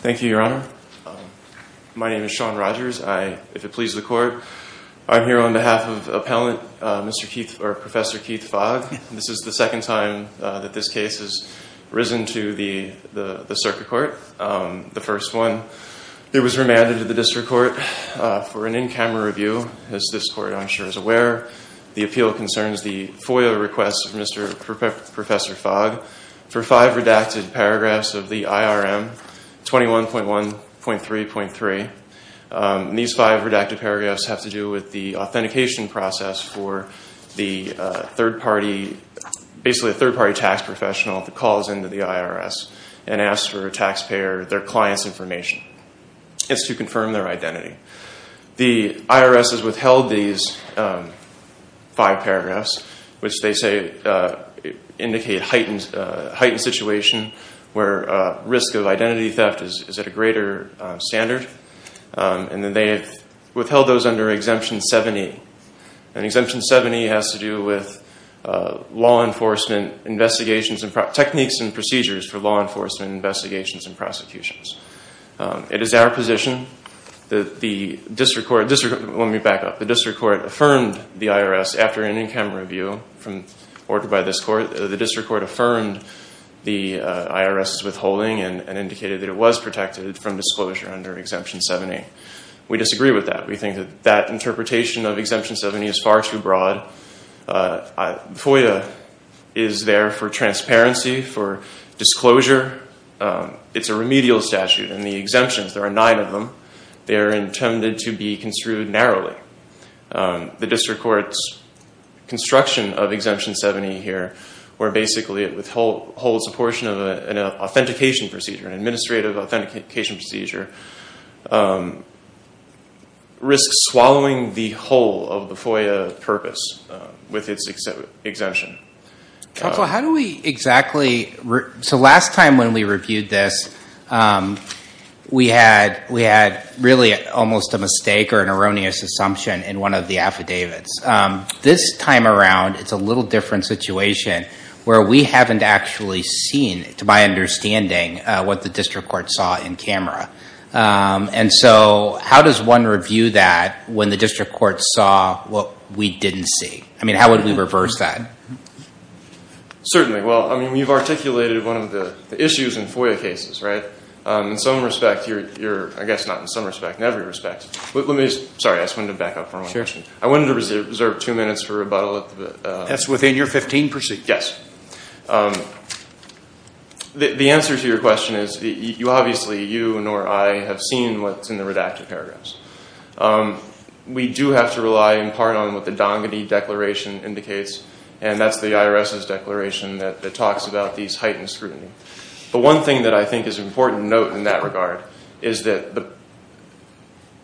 Thank you, your honor. My name is Sean Rogers. I, if it pleases the court, I'm here on behalf of appellant Mr. Keith, or Professor Keith Fogg. This is the second time that this case has risen to the circuit court, the first one. It was remanded to the district court for an in-camera review, as this court, I'm sure, is aware. The appeal concerns the FOIA request of Professor Fogg for five redacted paragraphs of the IRM, 21.1.3.3. These five redacted paragraphs have to do with the authentication process for the third-party, basically a third-party tax professional that calls into the IRS and asks for a taxpayer, their client's information. It's to confirm their identity. The IRS has withheld these five paragraphs, which they say indicate heightened situation where risk of identity theft is at a greater standard. And then they have withheld those under Exemption 70. And Exemption 70 has to do with law enforcement investigations and techniques and procedures for law enforcement investigations and prosecutions. It is our position that the district court, let me back up, the district court affirmed the IRS after an in-camera review from, ordered by this court, the district court affirmed the IRS' withholding and indicated that it was protected from disclosure under Exemption 70. We disagree with that. We believe FOIA is there for transparency, for disclosure. It's a remedial statute. In the exemptions, there are nine of them. They are intended to be construed narrowly. The district court's construction of Exemption 70 here, where basically it withholds a portion of an authentication procedure, an administrative authentication procedure, risks swallowing the whole of the FOIA purpose with its exemption. So how do we exactly, so last time when we reviewed this, we had really almost a mistake or an erroneous assumption in one of the affidavits. This time around, it's a little different situation where we haven't actually seen, to my understanding, what the district court saw in what we didn't see. I mean, how would we reverse that? Certainly. Well, I mean, we've articulated one of the issues in FOIA cases, right? In some respect, you're, I guess not in some respect, in every respect. Let me, sorry, I just wanted to back up for a moment. I wanted to reserve two minutes for rebuttal. That's within your 15 percent. Yes. The answer to your question is, you obviously, you nor I have seen what's in the redacted paragraphs. We do have to rely in part on what the Dongeny Declaration indicates, and that's the IRS's declaration that talks about these heightened scrutiny. The one thing that I think is an important note in that regard is that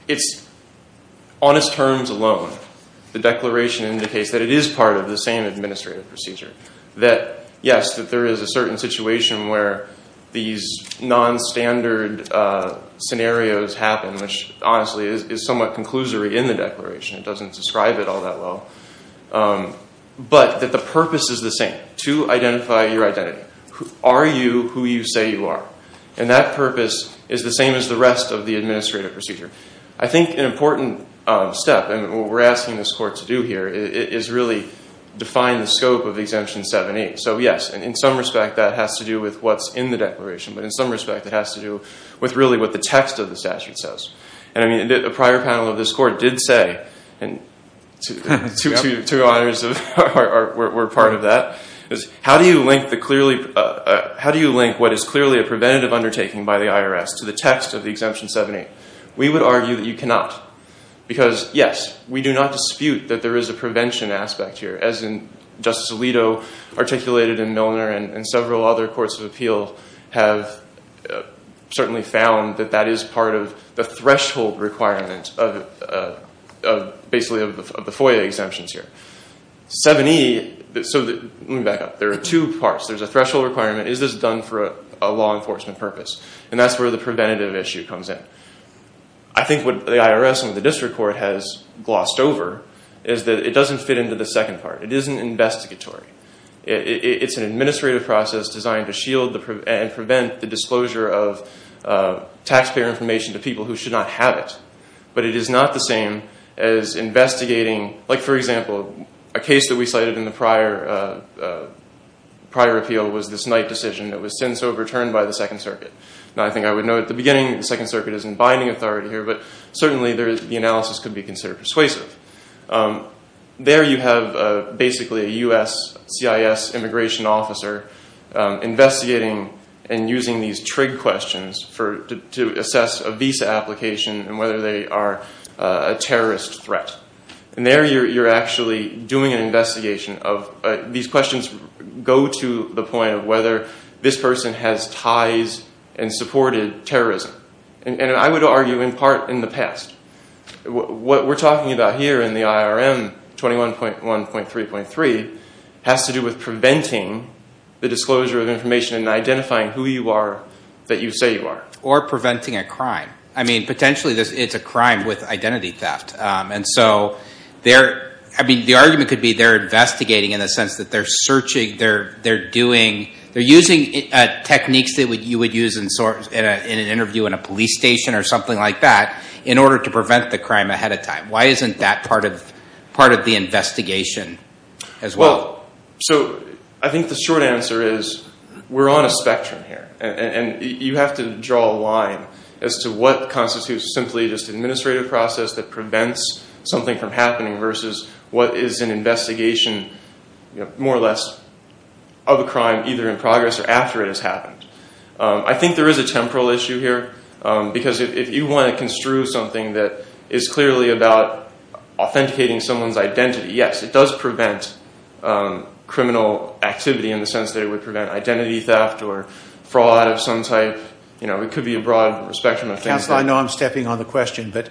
it's, on its terms alone, the declaration indicates that it is part of the same administrative procedure. That, yes, that there is a certain situation where these non-standard scenarios happen, which honestly is somewhat conclusory in the declaration. It doesn't describe it all that well. But that the purpose is the same, to identify your identity. Are you who you say you are? And that purpose is the same as the rest of the administrative procedure. I think an important step, and what we're asking this court to do here, is really define the scope of Exemption 7-8. So, yes, in some respect, that has to do with what's in the declaration. But in some respect, it has to do with really what the text of the statute says. And I mean, a prior panel of this court did say, and two honors were part of that, is how do you link what is clearly a preventative undertaking by the IRS to the text of the Exemption 7-8? We would argue that you cannot. Because, yes, we do not dispute that there is a prevention aspect here, as in Justice Alito articulated in Milner, and several other courts of appeal have certainly found that that is part of the threshold requirement, basically, of the FOIA exemptions here. 7-E, so let me back up. There are two parts. There's a threshold requirement. Is this done for a law enforcement purpose? And that's where the preventative issue comes in. I think what the IRS and the district court has glossed over is that it doesn't fit into the second part. It isn't investigatory. It's an administrative process designed to shield and prevent the disclosure of taxpayer information to people who should not have it. But it is not the same as investigating, like, for example, a case that we cited in the prior appeal was this Knight decision that was since overturned by the Second Circuit. Now, I think I would note at the beginning that the Second Circuit isn't binding authority here, but certainly the analysis could be considered persuasive. There you have, basically, a U.S. CIS immigration officer investigating and using these TRIG questions to assess a visa application and whether they are a terrorist threat. And there you're actually doing an investigation. These questions go to the point of whether this person has ties and supported terrorism. And I would argue, in part, in the past. What we're talking about here in the IRM 21.1.3.3 has to do with preventing the disclosure of information and identifying who you are that you say you are. Or preventing a crime. I mean, potentially it's a crime with identity theft. And so, the argument could be they're investigating in the sense that they're searching, they're using techniques that you would use in an interview in a police station or something like that in order to prevent the crime ahead of time. Why isn't that part of the investigation as well? Well, so, I think the short answer is we're on a spectrum here. And you have to draw a line as to what constitutes simply just an administrative process that prevents something from happening versus what is an investigation, more or less, of a crime either in progress or after it has happened. I think there is a temporal issue here. Because if you want to construe something that is clearly about authenticating someone's identity, yes, it does prevent criminal activity in the sense that it would prevent identity theft or fraud of some type. You know, it could be a broad spectrum of things. Counsel, I know I'm stepping on the question, but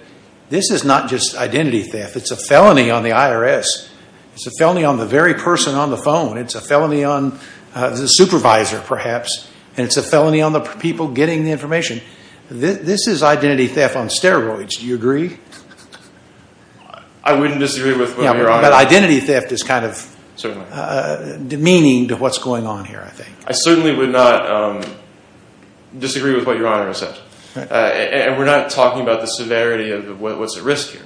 this is not just identity theft. It's a felony on the IRS. It's a felony on the very person on the phone. It's a felony on the supervisor, perhaps. And it's a felony on the people getting the information. This is identity theft on steroids. Do you agree? I wouldn't disagree with what Your Honor said. Yeah, but identity theft is kind of demeaning to what's going on here, I think. I certainly would not disagree with what Your Honor said. And we're not talking about the severity of what's at risk here.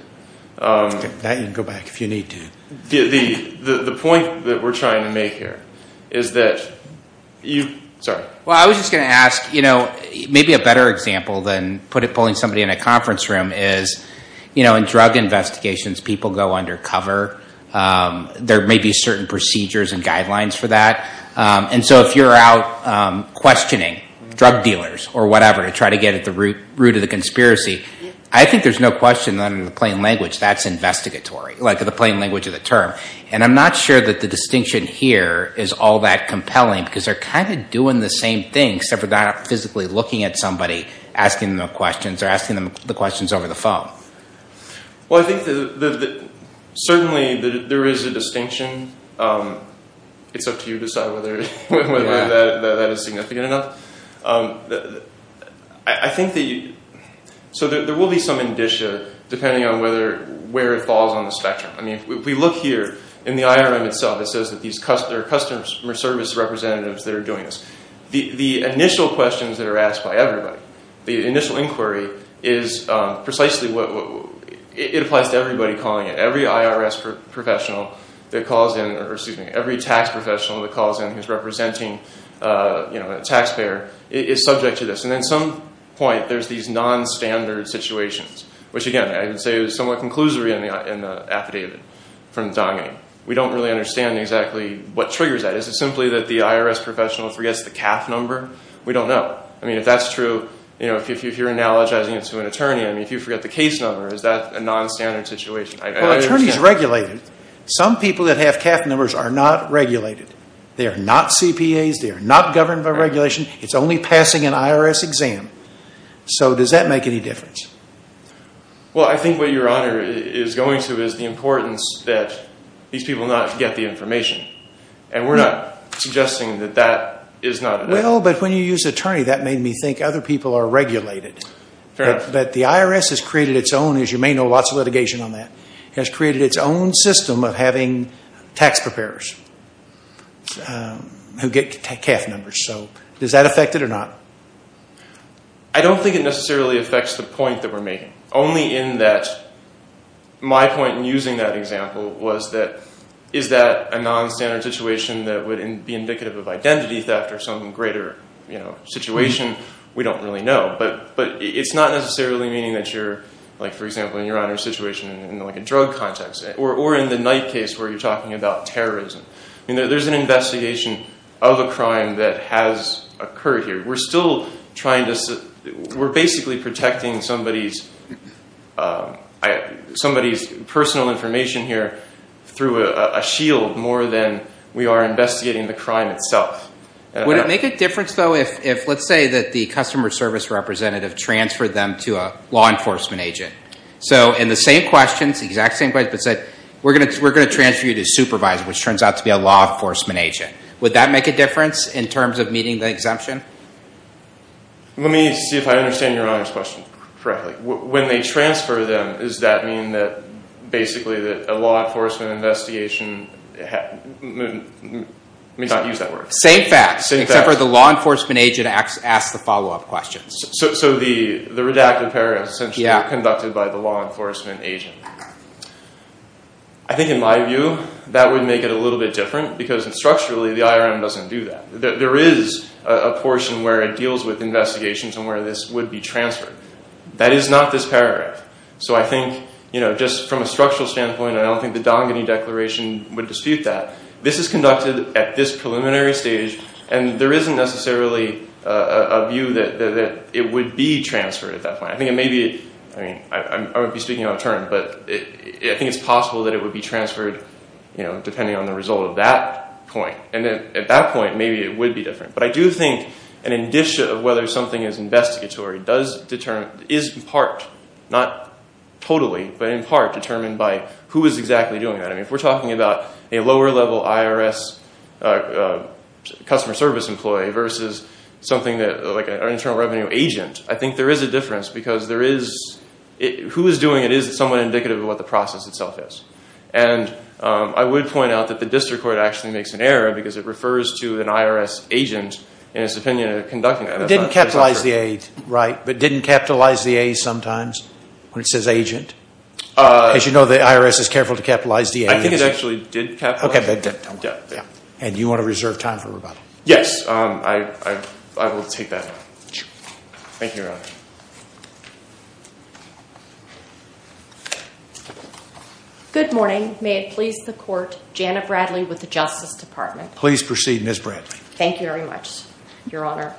That, you can go back if you need to. The point that we're trying to make here is that you, sorry. Well, I was just going to ask, you know, maybe a better example than pulling somebody in a conference room is, you know, in drug investigations, people go undercover. There may be certain procedures and guidelines for that. And so if you're out questioning drug dealers or whatever to try to get at the root of the conspiracy, I think there's no question that in the plain language, that's investigatory, like the plain language of the term. And I'm not sure that the distinction here is all that compelling because they're kind of doing the same thing, except for not physically looking at somebody, asking them questions, or asking them the questions over the phone. Well, I think that certainly there is a distinction. It's up to you to decide whether that is significant enough. I think that you, so there will be some indicia depending on whether, where it falls on the spectrum. I mean, if we look here in the IRM itself, it says that there are customer service representatives that are doing this. The initial questions that are asked by everybody, the initial inquiry is precisely what, it applies to everybody calling it. Every IRS professional that calls in, or excuse me, every tax professional that calls in who's representing, you know, a taxpayer is subject to this. And at some point, there's these nonstandard situations, which again, I would say is somewhat conclusory in the affidavit from Donning. We don't really understand exactly what triggers that. Is it simply that the IRS professional forgets the CAF number? We don't know. I mean, if that's true, you know, if you're analogizing it to an attorney, I mean, if you forget the case number, is that a nonstandard situation? Well, attorneys regulate it. Some people that have CAF numbers are not regulated. They are not CPAs. They are not governed by regulation. It's only passing an IRS exam. So does that make any difference? Well, I think what your Honor is going to is the importance that these people not forget the information. And we're not suggesting that that is not a bad thing. Well, but when you use attorney, that made me think other people are regulated. But the IRS has created its own, as you may know, lots of litigation on that, has created its own system of having tax preparers who get CAF numbers. So does that affect it or not? I don't think it necessarily affects the point that we're making. Only in that my point in using that example was that is that a nonstandard situation that would be indicative of identity theft or some greater situation? We don't really know. But it's not necessarily meaning that you're, like, for example, in your Honor's situation in, like, a drug context. Or in the Knight case where you're talking about terrorism. There's an investigation of a crime that has occurred here. We're still trying to – we're basically protecting somebody's personal information here through a shield more than we are investigating the crime itself. Would it make a difference, though, if let's say that the customer service representative transferred them to a law enforcement agent? So in the same questions, the exact same questions, but said, we're going to transfer you to a supervisor, which turns out to be a law enforcement agent. Would that make a difference in terms of meeting the exemption? Let me see if I understand your Honor's question correctly. When they transfer them, does that mean that basically that a law enforcement investigation – let me not use that word. Same facts, except for the law enforcement agent asks the follow-up questions. So the redacted paragraph is essentially conducted by the law enforcement agent. I think in my view that would make it a little bit different because structurally the IRM doesn't do that. There is a portion where it deals with investigations and where this would be transferred. That is not this paragraph. So I think, you know, just from a structural standpoint, I don't think the Dongeny Declaration would dispute that. This is conducted at this preliminary stage, and there isn't necessarily a view that it would be transferred at that point. I think it may be – I mean, I won't be speaking on a term, but I think it's possible that it would be transferred, you know, depending on the result of that point. And then at that point, maybe it would be different. But I do think an indicia of whether something is investigatory does determine – is in part, not totally, but in part determined by who is exactly doing that. I mean, if we're talking about a lower-level IRS customer service employee versus something like an internal revenue agent, I think there is a difference because there is – who is doing it is somewhat indicative of what the process itself is. And I would point out that the district court actually makes an error because it refers to an IRS agent in its opinion conducting that. But it didn't capitalize the age, right? But it didn't capitalize the age sometimes when it says agent? As you know, the IRS is careful to capitalize the age. I think it actually did capitalize the age. Okay. And you want to reserve time for rebuttal? Yes. I will take that. Thank you, Your Honor. Good morning. May it please the Court, Jana Bradley with the Justice Department. Please proceed, Ms. Bradley. Thank you very much, Your Honor.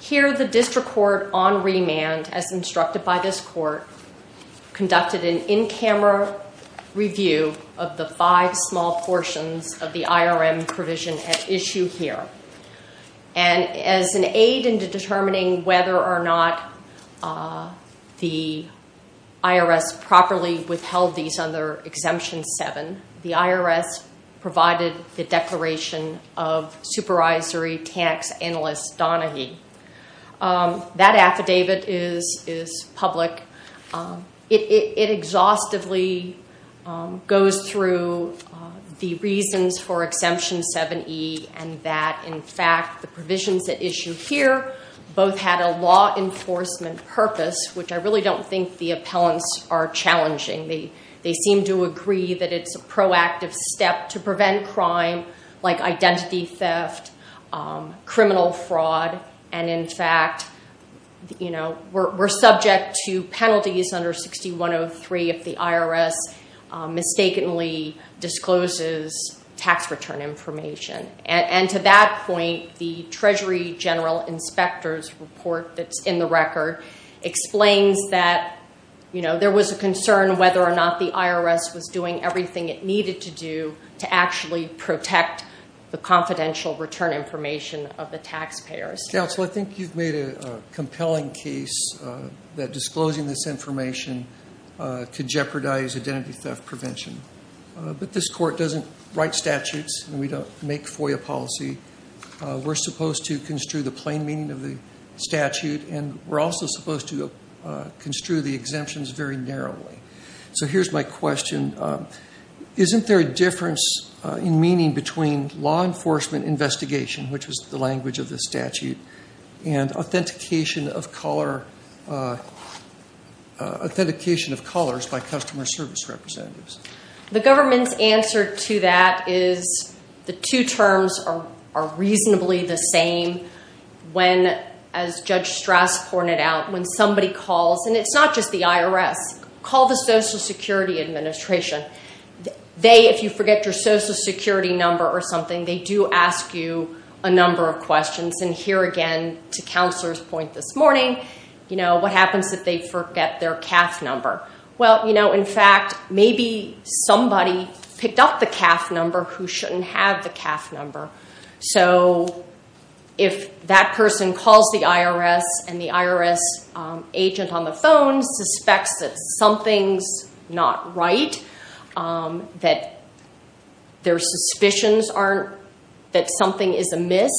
Here, the district court on remand, as instructed by this court, conducted an in-camera review of the five small portions of the IRM provision at issue here. And as an aid in determining whether or not the IRS properly withheld these under Exemption 7, the IRS provided the declaration of Supervisory Tax Analyst Donaghy. That affidavit is public. It exhaustively goes through the reasons for Exemption 7E and that, in fact, the provisions at issue here both had a law enforcement purpose, which I really don't think the appellants are challenging. They seem to agree that it's a proactive step to prevent crime like identity theft, criminal fraud, and, in fact, we're subject to penalties under 6103 if the IRS mistakenly discloses tax return information. And to that point, the Treasury General Inspector's report that's in the record explains that, you know, there was a concern whether or not the IRS was doing everything it needed to do to actually protect the confidential return information of the taxpayers. Counsel, I think you've made a compelling case that disclosing this information could jeopardize identity theft prevention. But this court doesn't write statutes and we don't make FOIA policy. We're supposed to construe the plain meaning of the statute and we're also supposed to construe the exemptions very narrowly. So here's my question. Isn't there a difference in meaning between law enforcement investigation, which was the language of the statute, and authentication of callers by customer service representatives? The government's answer to that is the two terms are reasonably the same. When, as Judge Strass pointed out, when somebody calls, and it's not just the IRS, call the Social Security Administration. They, if you forget your Social Security number or something, they do ask you a number of questions. And here again, to Counselor's point this morning, you know, what happens if they forget their CAF number? Well, you know, in fact, maybe somebody picked up the CAF number who shouldn't have the CAF number. So if that person calls the IRS and the IRS agent on the phone suspects that something's not right, that their suspicions aren't, that something is amiss,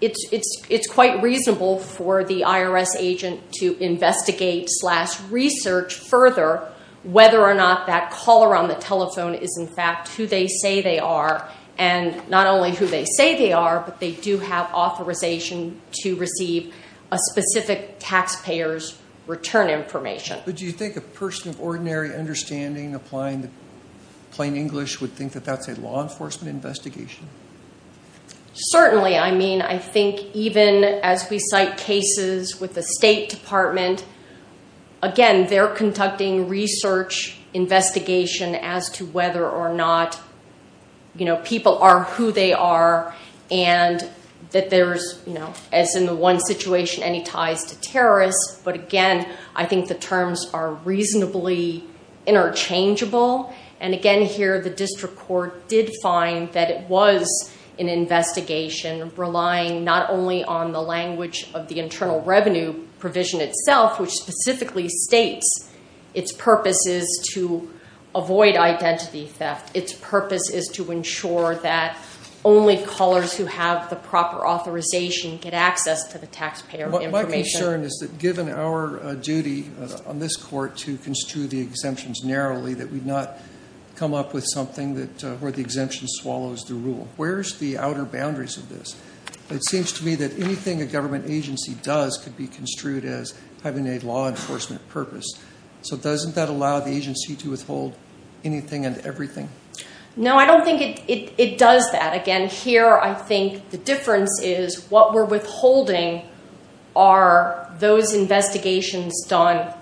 it's quite reasonable for the IRS agent to investigate slash research further whether or not that caller on the telephone is in fact who they say they are. And not only who they say they are, but they do have authorization to receive a specific taxpayer's return information. But do you think a person of ordinary understanding applying the plain English would think that that's a law enforcement investigation? Certainly. I mean, I think even as we cite cases with the State Department, again, they're conducting research investigation as to whether or not, you know, people are who they are, and that there's, you know, as in the one situation, any ties to terrorists. But again, I think the terms are reasonably interchangeable. And again, here the district court did find that it was an investigation relying not only on the language of the internal revenue provision itself, which specifically states its purpose is to avoid identity theft. Its purpose is to ensure that only callers who have the proper authorization get access to the taxpayer information. My concern is that given our duty on this court to construe the exemptions narrowly, that we've not come up with something where the exemption swallows the rule. Where's the outer boundaries of this? It seems to me that anything a government agency does could be construed as having a law enforcement purpose. So doesn't that allow the agency to withhold anything and everything? No, I don't think it does that. Again, here I think the difference is what we're withholding are those investigations done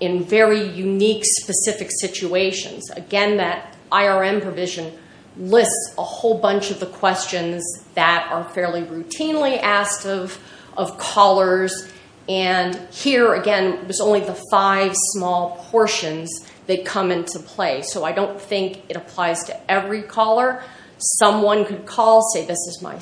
in very unique, specific situations. Again, that IRM provision lists a whole bunch of the questions that are fairly routinely asked of callers. And here, again, it was only the five small portions that come into play. So I don't think it applies to every caller. Someone could call, say, this is my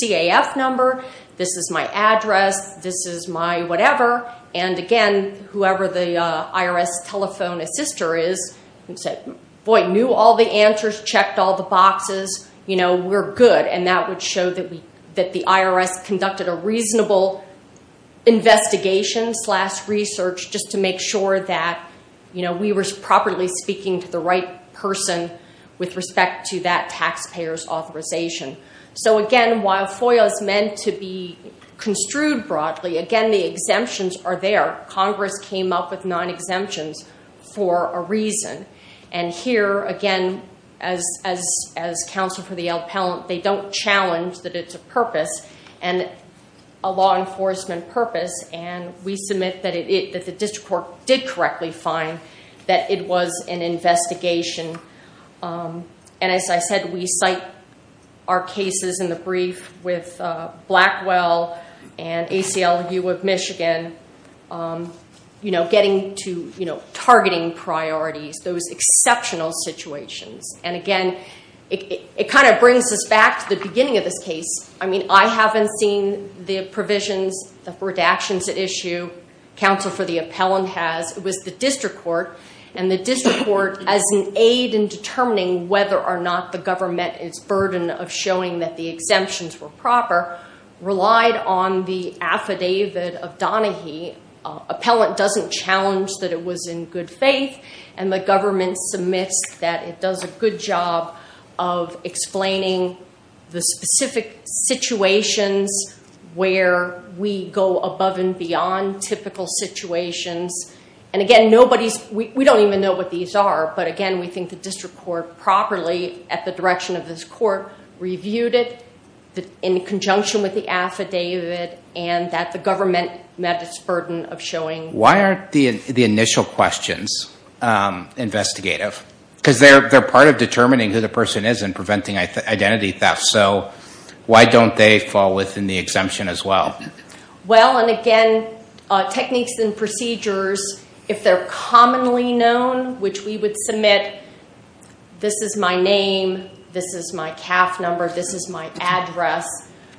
CAF number, this is my address, this is my whatever. And again, whoever the IRS telephone assister is who said, boy, knew all the answers, checked all the boxes. You know, we're good. And that would show that the IRS conducted a reasonable investigation slash research just to make sure that, you know, we were properly speaking to the right person with respect to that taxpayer's authorization. So again, while FOIA is meant to be construed broadly, again, the exemptions are there. Congress came up with non-exemptions for a reason. And here, again, as counsel for the appellant, they don't challenge that it's a purpose and a law enforcement purpose. And we submit that the district court did correctly find that it was an investigation. And as I said, we cite our cases in the brief with Blackwell and ACLU of Michigan, you know, getting to, you know, targeting priorities, those exceptional situations. And again, it kind of brings us back to the beginning of this case. I mean, I haven't seen the provisions, the redactions at issue. Counsel for the appellant has. It was the district court. And the district court, as an aid in determining whether or not the government is burdened of showing that the exemptions were proper, relied on the affidavit of Donaghy. Appellant doesn't challenge that it was in good faith. And the government submits that it does a good job of explaining the specific situations where we go above and beyond typical situations. And again, nobody's, we don't even know what these are. But again, we think the district court properly at the direction of this court reviewed it in conjunction with the affidavit and that the government met its burden of showing. Why aren't the initial questions investigative? Because they're part of determining who the person is and preventing identity theft. So why don't they fall within the exemption as well? Well, and again, techniques and procedures, if they're commonly known, which we would submit, this is my name, this is my CAF number, this is my address.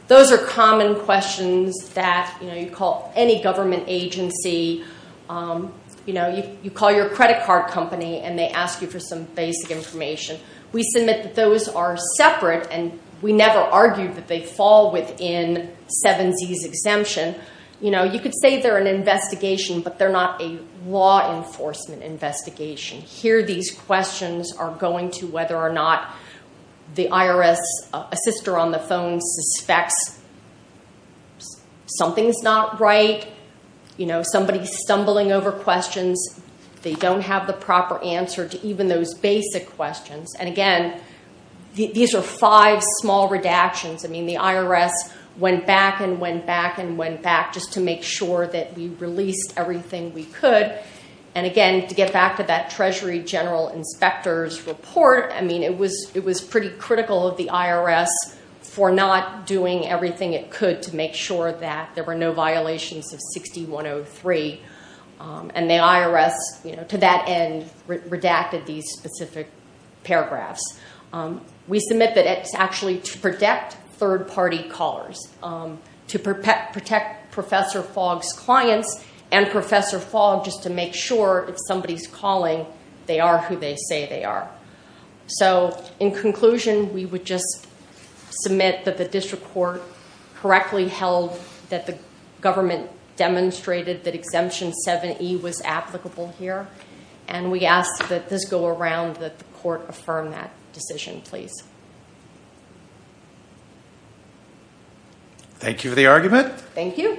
Those are common questions that, you know, you call any government agency. You know, you call your credit card company and they ask you for some basic information. We submit that those are separate and we never argued that they fall within 7Z's exemption. You know, you could say they're an investigation, but they're not a law enforcement investigation. Here these questions are going to whether or not the IRS assister on the phone suspects something's not right. You know, somebody's stumbling over questions. They don't have the proper answer to even those basic questions. And again, these are five small redactions. I mean, the IRS went back and went back and went back just to make sure that we released everything we could. And again, to get back to that Treasury General Inspector's report, I mean, it was pretty critical of the IRS for not doing everything it could to make sure that there were no violations of 6103. And the IRS, you know, to that end redacted these specific paragraphs. We submit that it's actually to protect third-party callers, to protect Professor Fogg's clients, and Professor Fogg just to make sure if somebody's calling, they are who they say they are. So in conclusion, we would just submit that the district court correctly held that the government demonstrated that Exemption 7E was applicable here. And we ask that this go around, that the court affirm that decision, please. Thank you for the argument. Thank you.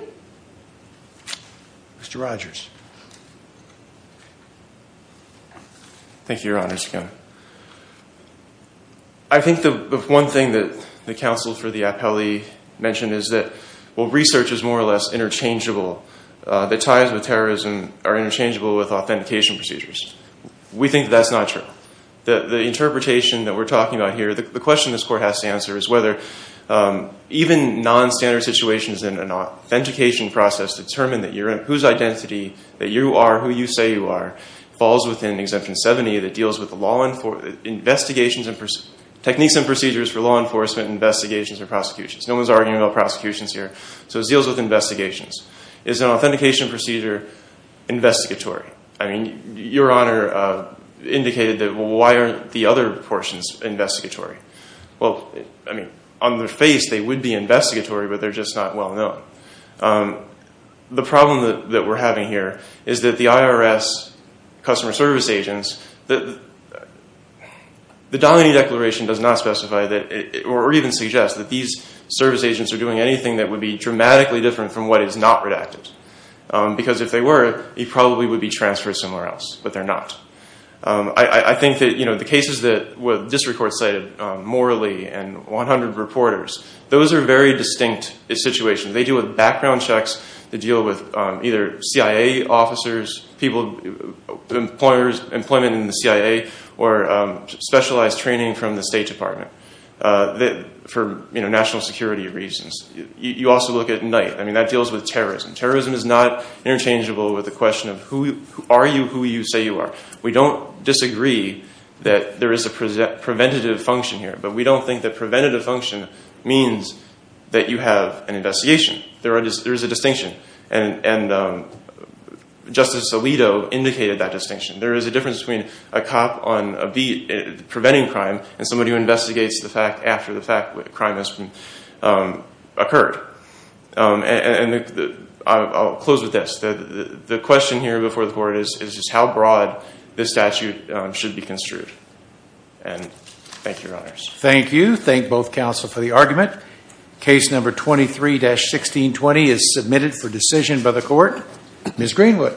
Mr. Rogers. Thank you, Your Honors. I think the one thing that the counsel for the appellee mentioned is that, well, research is more or less interchangeable, that ties with terrorism are interchangeable with authentication procedures. We think that's not true. The interpretation that we're talking about here, the question this court has to answer, is whether even non-standard situations in an authentication process determine that you're in, whose identity, that you are who you say you are, falls within Exemption 7E that deals with the law, investigations and techniques and procedures for law enforcement investigations or prosecutions. No one's arguing about prosecutions here. So it deals with investigations. Is an authentication procedure investigatory? I mean, Your Honor indicated that, well, why aren't the other portions investigatory? Well, I mean, on their face, they would be investigatory, but they're just not well known. The problem that we're having here is that the IRS customer service agents, the Domini Declaration does not specify or even suggest that these service agents are doing anything that would be dramatically different from what is not redacted. Because if they were, he probably would be transferred somewhere else, but they're not. I think that the cases that this court cited, Morley and 100 Reporters, those are very distinct situations. They deal with background checks that deal with either CIA officers, people, employers, employment in the CIA, or specialized training from the State Department for national security reasons. You also look at Knight. I mean, that deals with terrorism. Terrorism is not interchangeable with the question of are you who you say you are. We don't disagree that there is a preventative function here, but we don't think that preventative function means that you have an investigation. There is a distinction, and Justice Alito indicated that distinction. There is a difference between a cop on a beat preventing crime and somebody who investigates the fact after the fact that a crime has occurred. And I'll close with this. The question here before the court is just how broad this statute should be construed. And thank you, Your Honors. Thank you. Thank both counsel for the argument. Case number 23-1620 is submitted for decision by the court. Ms. Greenwood.